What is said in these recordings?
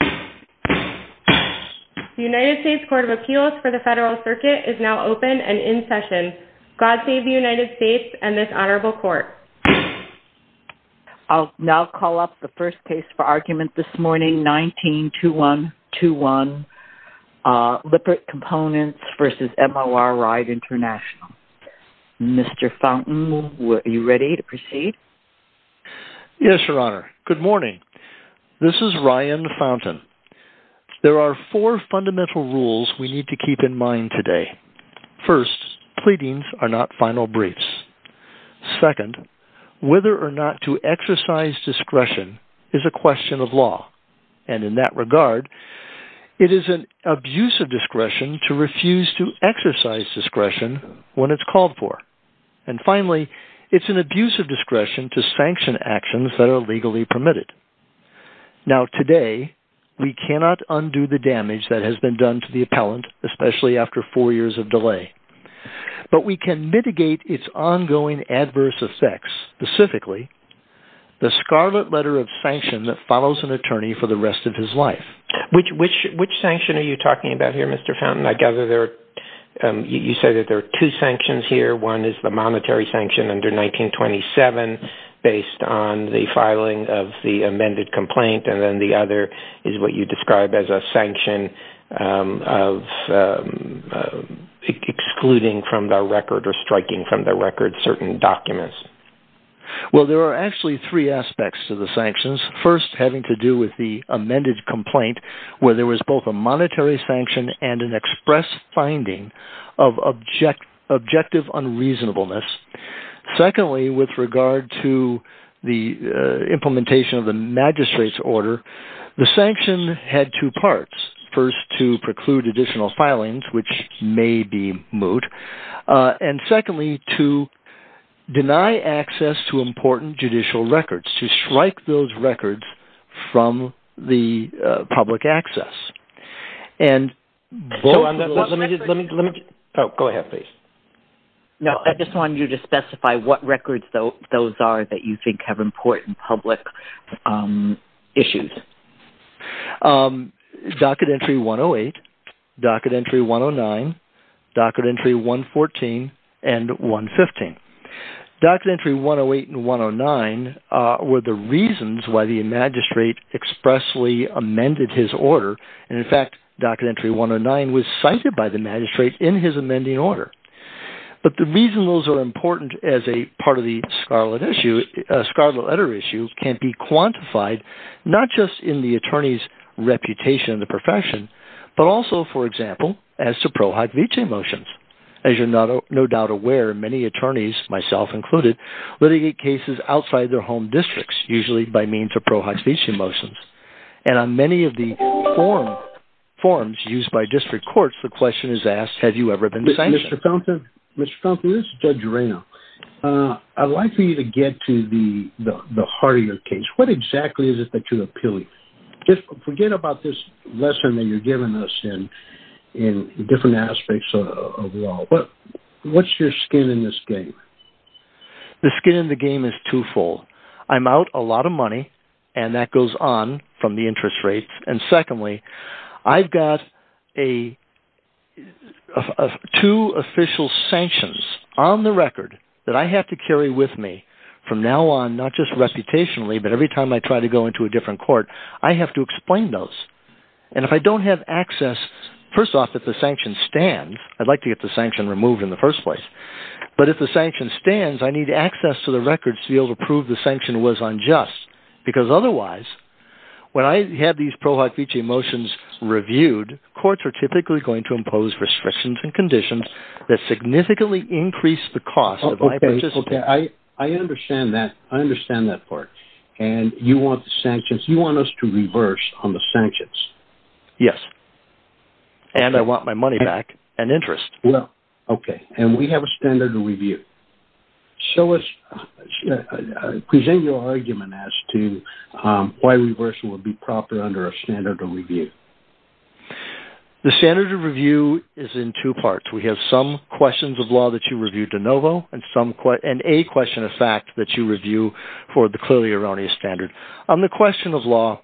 The United States Court of Appeals for the Federal Circuit is now open and in session. God save the United States and this Honorable Court. I'll now call up the first case for argument this morning, 19-2121, Lippert Components v. MOR-ryde International. Mr. Fountain, are you ready to proceed? Yes, Your Honor. Good morning. This is Ryan Fountain. There are four fundamental rules we need to keep in mind today. First, pleadings are not final briefs. Second, whether or not to exercise discretion is a question of law. And in that regard, it is an abuse of discretion to refuse to exercise discretion when it's called for. And finally, it's an abuse of discretion to sanction actions that are legally permitted. Now today, we cannot undo the damage that has been done to the appellant, especially after four years of delay. But we can mitigate its ongoing adverse effects. Specifically, the scarlet letter of sanction that follows an attorney for the rest of his life. Which sanction are you talking about here, Mr. Fountain? I gather you say that there are two sanctions here. One is the monetary sanction under 1927 based on the filing of the amended complaint. And then the other is what you describe as a sanction of excluding from the record or striking from the record certain documents. Well, there are actually three aspects to the sanctions. First, having to do with the amended complaint where there was both a monetary sanction and an express finding of objective unreasonableness. Secondly, with regard to the implementation of the magistrate's order, the sanction had two parts. First, to preclude additional filings, which may be moot. And secondly, to deny access to important judicial records. To strike those records from the public access. Go ahead, please. I just wanted you to specify what records those are that you think have important public issues. Docket entry 108, docket entry 109, docket entry 114, and 115. Docket entry 108 and 109 were the reasons why the magistrate expressly amended his order. And in fact, docket entry 109 was cited by the magistrate in his amending order. But the reason those are important as a part of the scarlet issue, scarlet letter issue, can be quantified not just in the attorney's reputation in the profession. But also, for example, as to prohibition motions. As you're no doubt aware, many attorneys, myself included, litigate cases outside their home districts. Usually by means of prohibition motions. And on many of the forms used by district courts, the question is asked, have you ever been sanctioned? Mr. Compton, this is Judge Arreno. I'd like for you to get to the heart of your case. What exactly is it that you're appealing? Forget about this lesson that you're giving us in different aspects of law. What's your skin in this game? The skin in the game is twofold. I'm out a lot of money, and that goes on from the interest rates. And secondly, I've got two official sanctions on the record that I have to carry with me from now on, not just reputationally, but every time I try to go into a different court, I have to explain those. And if I don't have access, first off, if the sanctions stand, I'd like to get the sanction removed in the first place. But if the sanction stands, I need access to the records to be able to prove the sanction was unjust. Because otherwise, when I have these Pro Hoc Vici motions reviewed, courts are typically going to impose restrictions and conditions that significantly increase the cost. I understand that part. And you want us to reverse on the sanctions? Yes. And I want my money back and interest. Okay. And we have a standard to review. Present your argument as to why reversal would be proper under a standard of review. The standard of review is in two parts. We have some questions of law that you review de novo and a question of fact that you review for the clearly erroneous standard. On the question of law,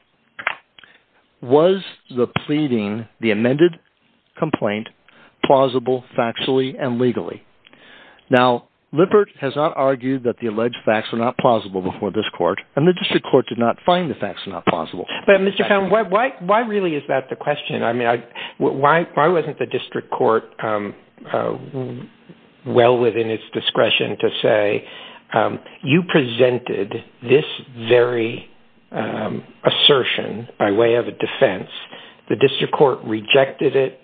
was the pleading, the amended complaint, plausible factually and legally? Now, Lippert has not argued that the alleged facts are not plausible before this court. And the district court did not find the facts not plausible. But, Mr. Cohn, why really is that the question? I mean, why wasn't the district court well within its discretion to say, you presented this very assertion by way of a defense. The district court rejected it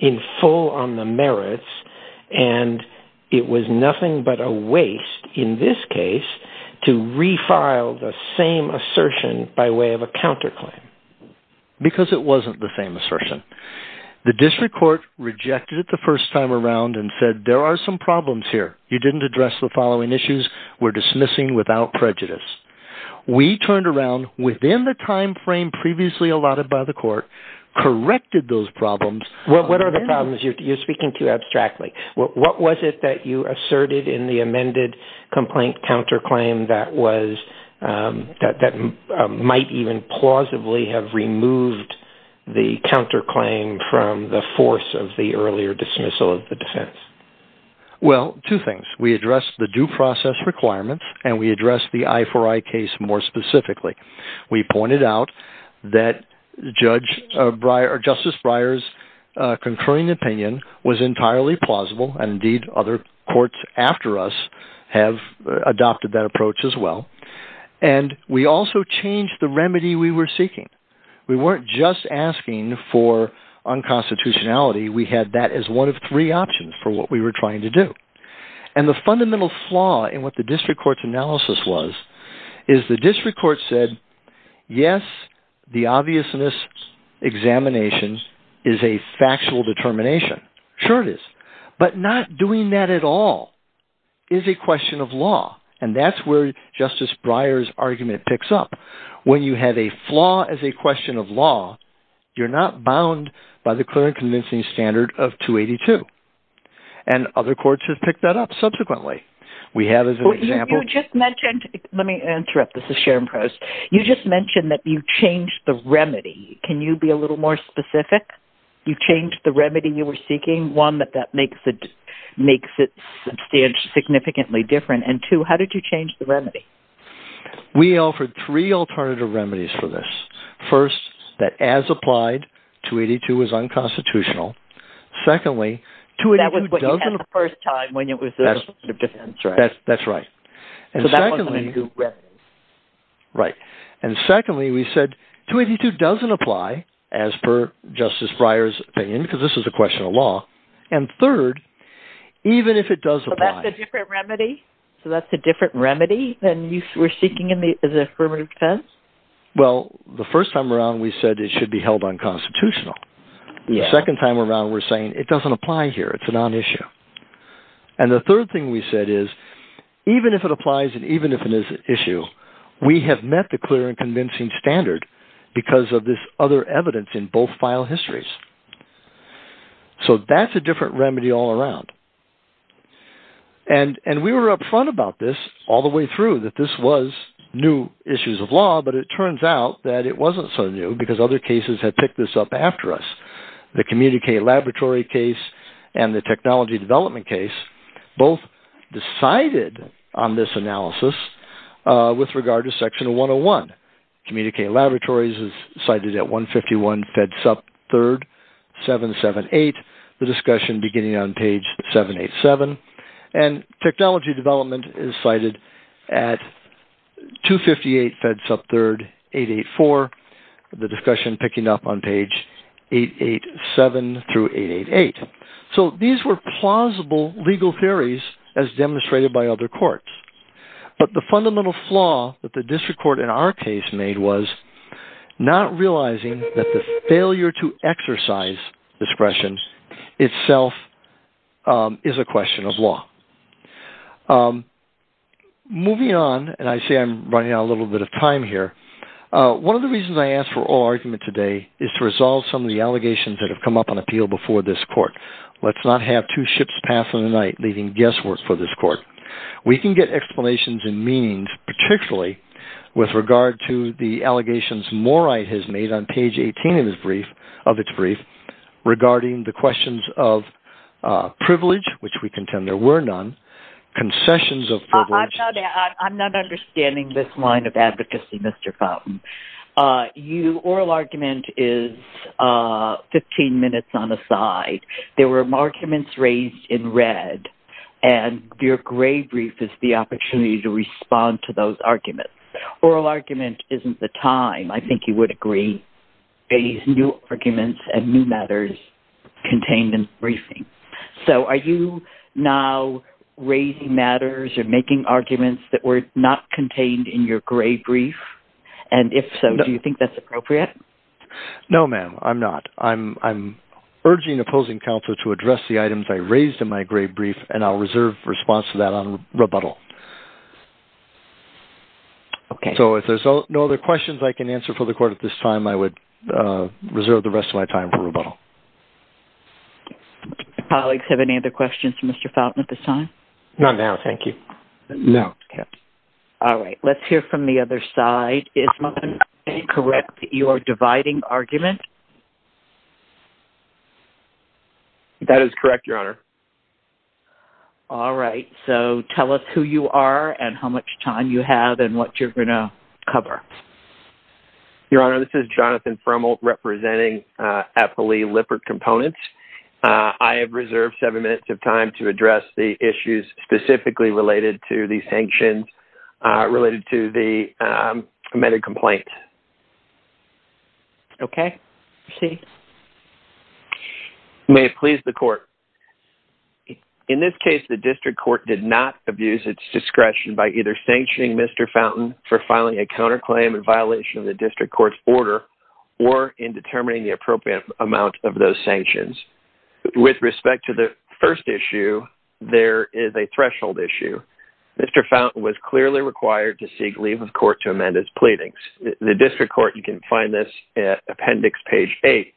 in full on the merits. And it was nothing but a waste in this case to refile the same assertion by way of a counterclaim. Because it wasn't the same assertion. The district court rejected it the first time around and said, there are some problems here. You didn't address the following issues. We're dismissing without prejudice. We turned around within the time frame previously allotted by the court, corrected those problems. What are the problems you're speaking to abstractly? What was it that you asserted in the amended complaint counterclaim that might even plausibly have removed the counterclaim from the force of the earlier dismissal of the defense? Well, two things. We addressed the due process requirements. And we addressed the I4I case more specifically. We pointed out that Justice Breyer's concurring opinion was entirely plausible. And, indeed, other courts after us have adopted that approach as well. And we also changed the remedy we were seeking. We weren't just asking for unconstitutionality. We had that as one of three options for what we were trying to do. And the fundamental flaw in what the district court's analysis was is the district court said, yes, the obviousness examination is a factual determination. Sure it is. But not doing that at all is a question of law. And that's where Justice Breyer's argument picks up. When you have a flaw as a question of law, you're not bound by the clear and convincing standard of 282. And other courts have picked that up subsequently. Let me interrupt. This is Sharon Post. You just mentioned that you changed the remedy. Can you be a little more specific? You changed the remedy you were seeking. One, that makes it significantly different. And, two, how did you change the remedy? We offered three alternative remedies for this. First, that as applied, 282 was unconstitutional. Secondly, 282 doesn't… That was what you had the first time when it was a question of defense. That's right. So that wasn't a new remedy. Right. And secondly, we said 282 doesn't apply as per Justice Breyer's opinion because this is a question of law. And third, even if it does apply… So that's a different remedy? So that's a different remedy than you were seeking in the affirmative defense? Well, the first time around, we said it should be held unconstitutional. The second time around, we're saying it doesn't apply here. It's a non-issue. And the third thing we said is, even if it applies and even if it is an issue, we have met the clear and convincing standard because of this other evidence in both file histories. So that's a different remedy all around. And we were upfront about this all the way through that this was new issues of law, but it turns out that it wasn't so new because other cases had picked this up after us. The Communicate Laboratory case and the technology development case both decided on this analysis with regard to Section 101. Communicate Laboratories is cited at 151 Fed Sub 3rd, 778, the discussion beginning on page 787. And technology development is cited at 258 Fed Sub 3rd, 884, the discussion picking up on page 887 through 888. So these were plausible legal theories as demonstrated by other courts. But the fundamental flaw that the district court in our case made was not realizing that the failure to exercise discretion itself is a question of law. Moving on, and I see I'm running out of a little bit of time here. One of the reasons I asked for oral argument today is to resolve some of the allegations that have come up on appeal before this court. Let's not have two ships pass in the night leaving guesswork for this court. We can get explanations and meanings, particularly with regard to the allegations Morey has made on page 18 of its brief regarding the questions of privilege, which we contend there were none, concessions of privilege. I'm not understanding this line of advocacy, Mr. Fountain. Oral argument is 15 minutes on the side. There were arguments raised in red, and your gray brief is the opportunity to respond to those arguments. Oral argument isn't the time, I think you would agree, for these new arguments and new matters contained in the briefing. So are you now raising matters or making arguments that were not contained in your gray brief? And if so, do you think that's appropriate? No, ma'am, I'm not. I'm urging opposing counsel to address the items I raised in my gray brief, and I'll reserve response to that on rebuttal. So if there's no other questions I can answer for the court at this time, I would reserve the rest of my time for rebuttal. Colleagues, have any other questions for Mr. Fountain at this time? Not now, thank you. No. Okay. All right. Let's hear from the other side. Is my understanding correct that you are dividing argument? That is correct, Your Honor. All right. So tell us who you are and how much time you have and what you're going to cover. Your Honor, this is Jonathan Frummel representing Appley Lippert Components. I have reserved seven minutes of time to address the issues specifically related to the sanctions related to the amended complaint. Okay. Proceed. May it please the court. In this case, the district court did not abuse its discretion by either sanctioning Mr. Fountain for filing a counterclaim in violation of the district court's order or in determining the appropriate amount of those sanctions. With respect to the first issue, there is a threshold issue. Mr. Fountain was clearly required to seek leave of court to amend his pleadings. The district court, you can find this at appendix page eight,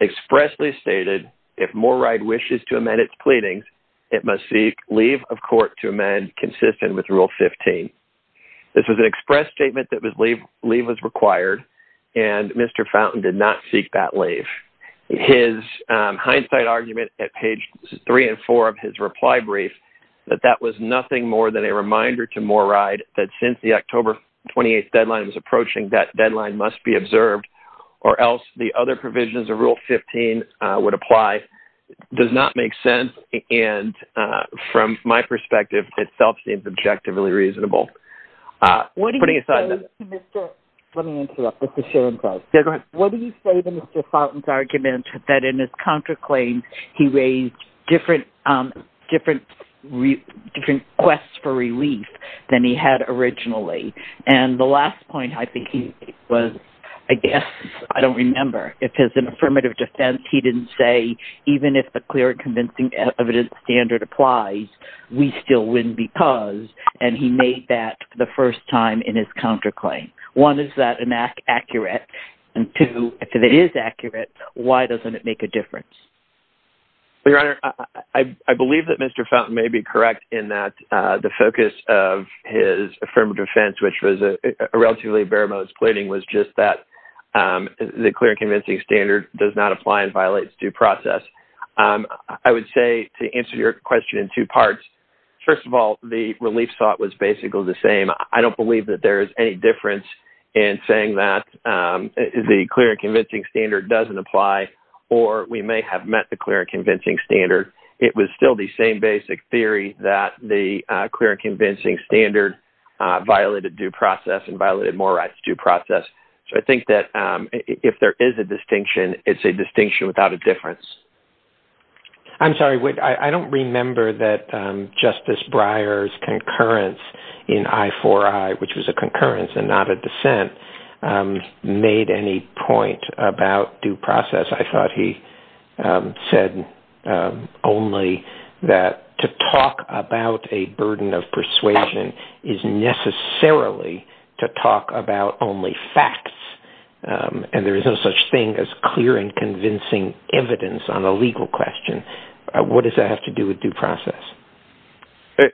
expressly stated, if Mooride wishes to amend its pleadings, it must seek leave of court to amend consistent with rule 15. This was an express statement that leave was required, and Mr. Fountain did not seek that leave. His hindsight argument at page three and four of his reply brief, that that was nothing more than a reminder to Mooride that since the October 28th deadline was approaching, that deadline must be observed or else the other provisions of rule 15 would apply, does not make sense, and from my perspective, itself seems objectively reasonable. What do you say to Mr. Fountain's argument that in his counterclaim, he raised different requests for relief than he had originally? And the last point I think he made was, I guess, I don't remember. If it's an affirmative defense, he didn't say, even if the clear and convincing evidence standard applies, we still win because, and he made that the first time in his counterclaim. One, is that accurate? And two, if it is accurate, why doesn't it make a difference? Your Honor, I believe that Mr. Fountain may be correct in that the focus of his affirmative defense, which was a relatively bare-bones pleading, was just that the clear and convincing standard does not apply and violates due process. I would say, to answer your question in two parts, first of all, the relief thought was basically the same. I don't believe that there is any difference in saying that the clear and convincing standard doesn't apply, or we may have met the clear and convincing standard. It was still the same basic theory that the clear and convincing standard violated due process and violated more rights due process. So I think that if there is a distinction, it's a distinction without a difference. I'm sorry, I don't remember that Justice Breyer's concurrence in I4I, which was a concurrence and not a dissent, made any point about due process. I thought he said only that to talk about a burden of persuasion is necessarily to talk about only facts, and there is no such thing as clear and convincing evidence on a legal question. What does that have to do with due process?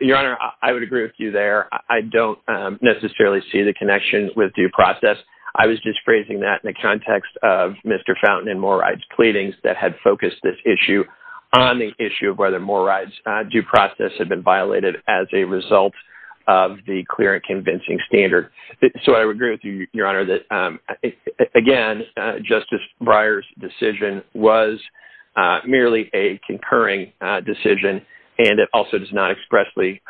Your Honor, I would agree with you there. I don't necessarily see the connection with due process. I was just phrasing that in the context of Mr. Fountain and Mooride's pleadings that had focused this issue on the issue of whether Mooride's due process had been violated as a result of the clear and convincing standard. So I would agree with you, Your Honor, that, again, Justice Breyer's decision was merely a concurring decision, and it also does not expressly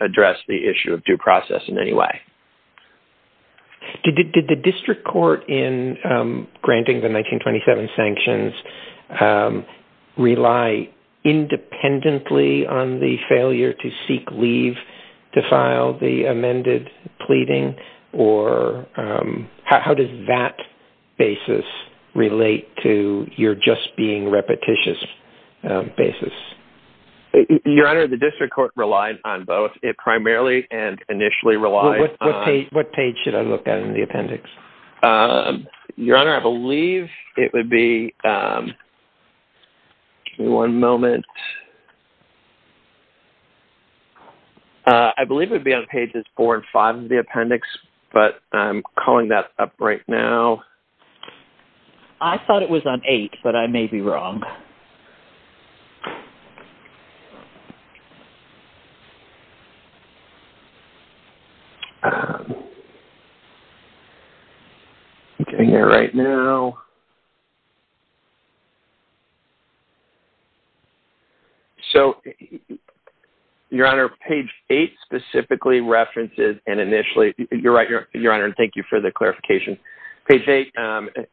address the issue of due process in any way. Did the district court in granting the 1927 sanctions rely independently on the failure to seek leave to file the amended pleading, or how does that basis relate to your just being repetitious basis? Your Honor, the district court relied on both. It primarily and initially relied on… What page should I look at in the appendix? Your Honor, I believe it would be… give me one moment. I believe it would be on pages four and five of the appendix, but I'm calling that up right now. I thought it was on eight, but I may be wrong. I'm getting there right now. So, Your Honor, page eight specifically references and initially… You're right, Your Honor, and thank you for the clarification. Page eight,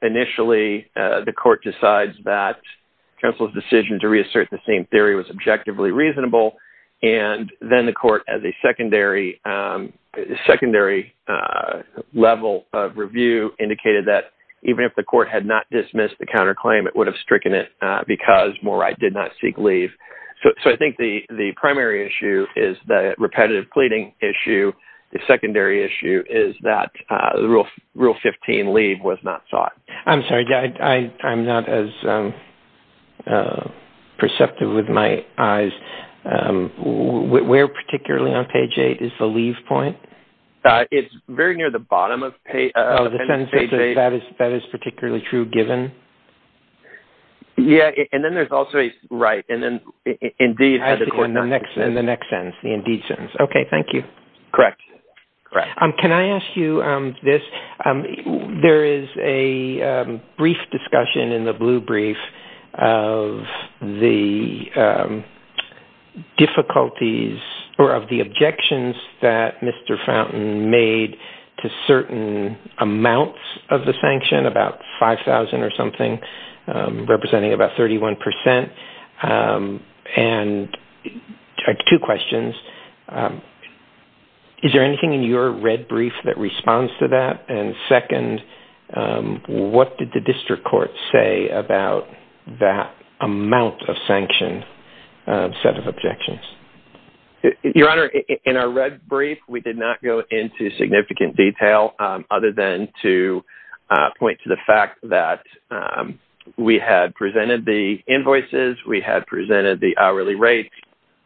initially, the court decides that counsel's decision to reassert the same theory was objectively reasonable, and then the court, as a secondary level of review, indicated that even if the court had not dismissed the counterclaim, it would have stricken it because Morey did not seek leave. So I think the primary issue is the repetitive pleading issue. The secondary issue is that Rule 15, leave, was not sought. I'm sorry. I'm not as perceptive with my eyes. Where particularly on page eight is the leave point? It's very near the bottom of page eight. Oh, in the sense that that is particularly true, given? Yeah, and then there's also… Right, and then indeed… I think in the next sentence, the indeed sentence. Okay, thank you. Correct, correct. Can I ask you this? There is a brief discussion in the blue brief of the difficulties or of the objections that Mr. Fountain made to certain amounts of the sanction, about 5,000 or something, representing about 31 percent, and two questions. Is there anything in your red brief that responds to that? And second, what did the district court say about that amount of sanction set of objections? Your Honor, in our red brief, we did not go into significant detail other than to point to the fact that we had presented the invoices, we had presented the hourly rates,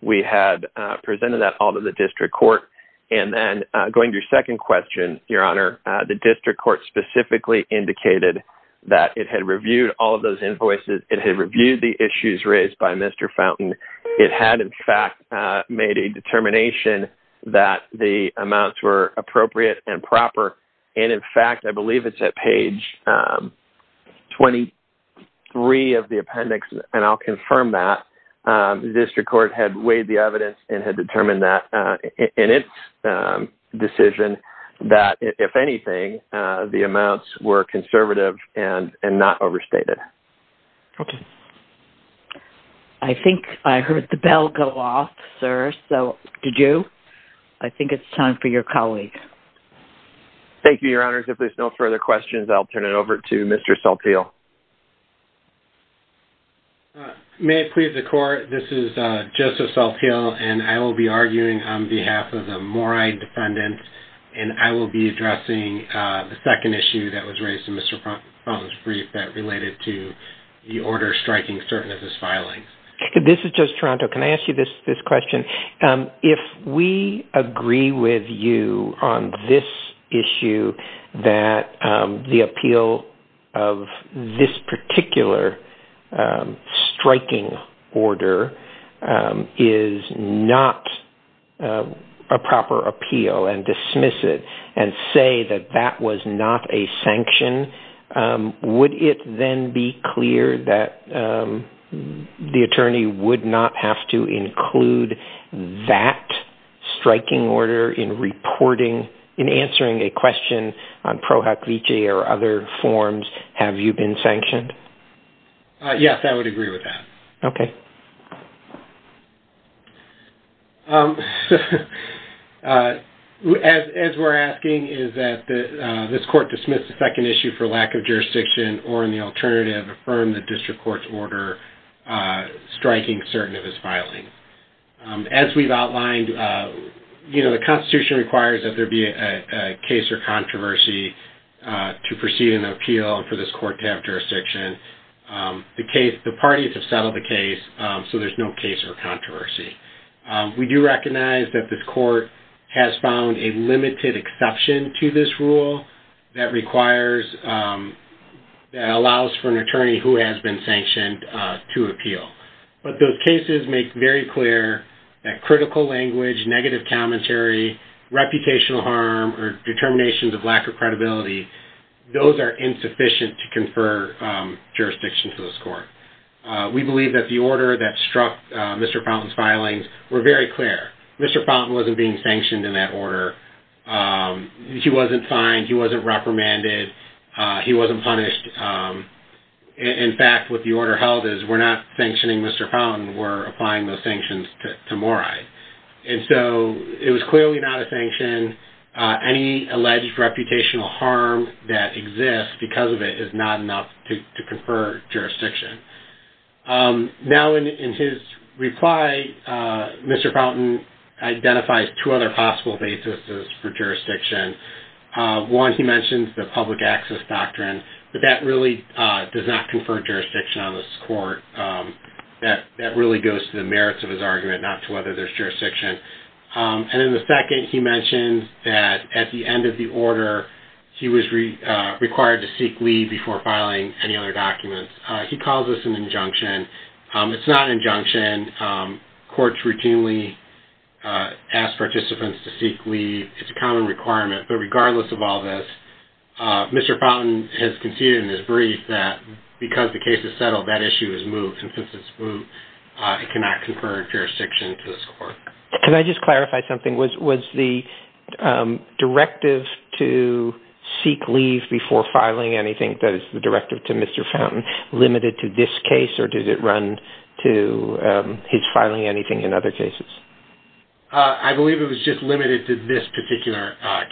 we had presented that all to the district court, and then going to your second question, Your Honor, the district court specifically indicated that it had reviewed all of those invoices, it had reviewed the issues raised by Mr. Fountain, it had in fact made a determination that the amounts were appropriate and proper, and in fact, I believe it's at page 23 of the appendix, and I'll confirm that, the district court had weighed the evidence and had determined that in its decision, that if anything, the amounts were conservative and not overstated. Okay. I think I heard the bell go off, sir, so did you? I think it's time for your colleague. Thank you, Your Honor. If there's no further questions, I'll turn it over to Mr. Salpil. May it please the court, this is Joseph Salpil, and I will be arguing on behalf of the Mori defendant, and I will be addressing the second issue that was raised in Mr. Fountain's brief that related to the order striking certain of this filing. This is Judge Toronto. Can I ask you this question? If we agree with you on this issue that the appeal of this particular striking order is not a proper appeal and dismiss it and say that that was not a sanction, would it then be clear that the attorney would not have to include that striking order in reporting, in answering a question on PROHUCVJ or other forms? Have you been sanctioned? Yes, I would agree with that. Okay. As we're asking, is that this court dismiss the second issue for lack of jurisdiction or in the alternative affirm the district court's order striking certain of this filing? As we've outlined, you know, the Constitution requires that there be a case or controversy to proceed an appeal and for this court to have jurisdiction. The parties have settled the case, so there's no case or controversy. We do recognize that this court has found a limited exception to this rule that requires, that allows for an attorney who has been sanctioned to appeal. But those cases make very clear that critical language, negative commentary, reputational harm or determinations of lack of credibility, We believe that the order that struck Mr. Fountain's filings were very clear. Mr. Fountain wasn't being sanctioned in that order. He wasn't fined. He wasn't reprimanded. He wasn't punished. In fact, what the order held is we're not sanctioning Mr. Fountain. We're applying those sanctions to Mori. And so it was clearly not a sanction. Any alleged reputational harm that exists because of it is not enough to confer jurisdiction. Now, in his reply, Mr. Fountain identifies two other possible basis for jurisdiction. One, he mentions the public access doctrine, but that really does not confer jurisdiction on this court. That really goes to the merits of his argument, not to whether there's jurisdiction. And in the second, he mentions that at the end of the order, he was required to seek leave before filing any other documents. He calls this an injunction. It's not an injunction. Courts routinely ask participants to seek leave. It's a common requirement. But regardless of all this, Mr. Fountain has conceded in his brief that because the case is settled, that issue is moved. And since it's moved, it cannot confer jurisdiction to this court. Can I just clarify something? Was the directive to seek leave before filing anything, that is, the directive to Mr. Fountain, limited to this case, or did it run to his filing anything in other cases? I believe it was just limited to this particular case.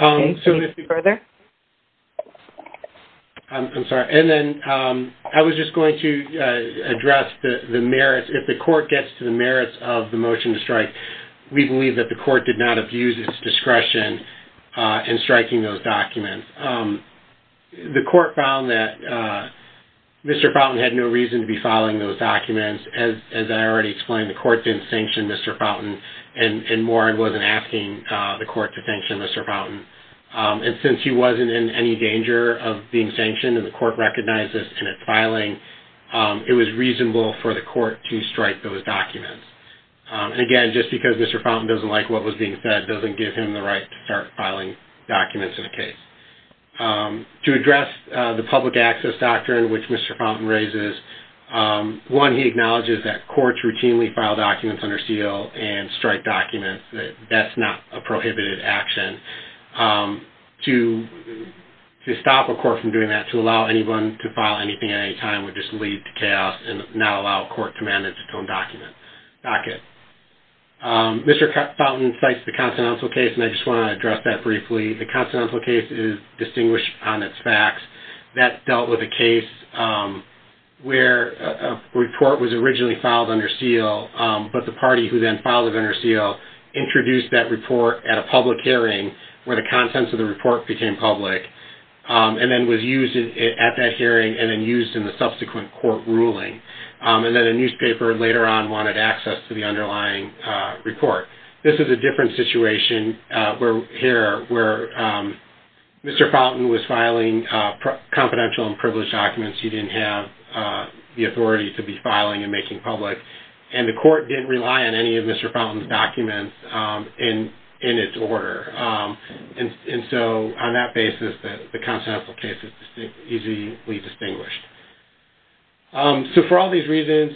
Okay, so let's move further. I'm sorry. And then I was just going to address the merits. If the court gets to the merits of the motion to strike, we believe that the court did not abuse its discretion in striking those documents. The court found that Mr. Fountain had no reason to be filing those documents. As I already explained, the court didn't sanction Mr. Fountain, and more, it wasn't asking the court to sanction Mr. Fountain. And since he wasn't in any danger of being sanctioned and the court recognized this in its filing, it was reasonable for the court to strike those documents. And again, just because Mr. Fountain doesn't like what was being said doesn't give him the right to start filing documents in a case. To address the public access doctrine which Mr. Fountain raises, one, he acknowledges that courts routinely file documents under seal and strike documents. That's not a prohibited action. To stop a court from doing that, to allow anyone to file anything at any time, would just lead to chaos and not allow a court to manage its own docket. Mr. Fountain cites the Continental case, and I just want to address that briefly. The Continental case is distinguished on its facts. That dealt with a case where a report was originally filed under seal, but the party who then filed it under seal introduced that report at a public hearing where the contents of the report became public and then was used at that hearing and then used in the subsequent court ruling. And then a newspaper later on wanted access to the underlying report. This is a different situation here where Mr. Fountain was filing confidential and privileged documents. He didn't have the authority to be filing and making public, and the court didn't rely on any of Mr. Fountain's documents in its order. And so on that basis, the Continental case is easily distinguished. So for all these reasons,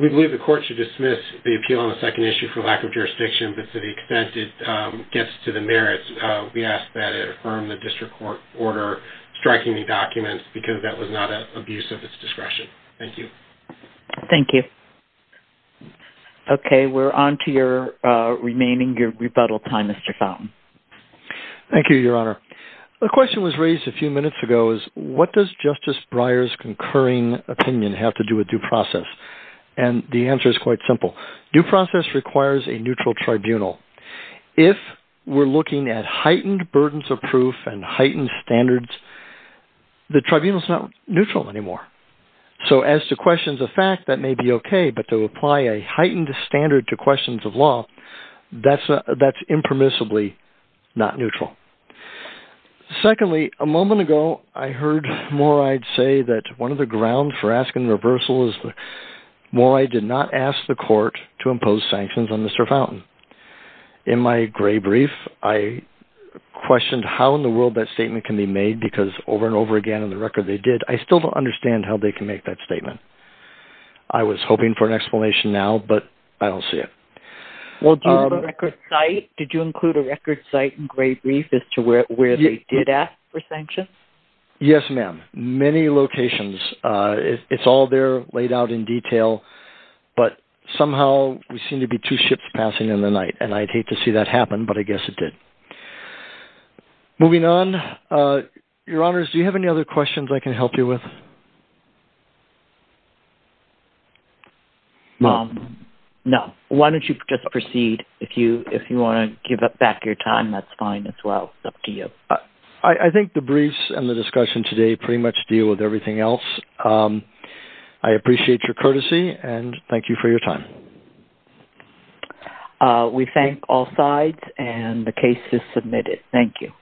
we believe the court should dismiss the appeal on the second issue for lack of jurisdiction, but to the extent it gets to the merits, we ask that it affirm the district court order striking the documents because that was not an abuse of its discretion. Thank you. Thank you. Okay, we're on to your remaining rebuttal time, Mr. Fountain. Thank you, Your Honor. The question was raised a few minutes ago is what does Justice Breyer's concurring opinion have to do with due process? And the answer is quite simple. Due process requires a neutral tribunal. If we're looking at heightened burdens of proof and heightened standards, the tribunal is not neutral anymore. So as to questions of fact, that may be okay, but to apply a heightened standard to questions of law, that's impermissibly not neutral. Secondly, a moment ago, I heard Moride say that one of the grounds for asking reversal is that Moride did not ask the court to impose sanctions on Mr. Fountain. In my gray brief, I questioned how in the world that statement can be made because over and over again in the record they did, I still don't understand how they can make that statement. I was hoping for an explanation now, but I don't see it. Did you include a record site in gray brief as to where they did ask for sanctions? Yes, ma'am, many locations. It's all there laid out in detail, but somehow we seem to be two ships passing in the night, and I'd hate to see that happen, but I guess it did. Moving on, Your Honors, do you have any other questions I can help you with? No. Why don't you just proceed? If you want to give back your time, that's fine as well. It's up to you. I think the briefs and the discussion today pretty much deal with everything else. I appreciate your courtesy, and thank you for your time. We thank all sides, and the case is submitted. Thank you.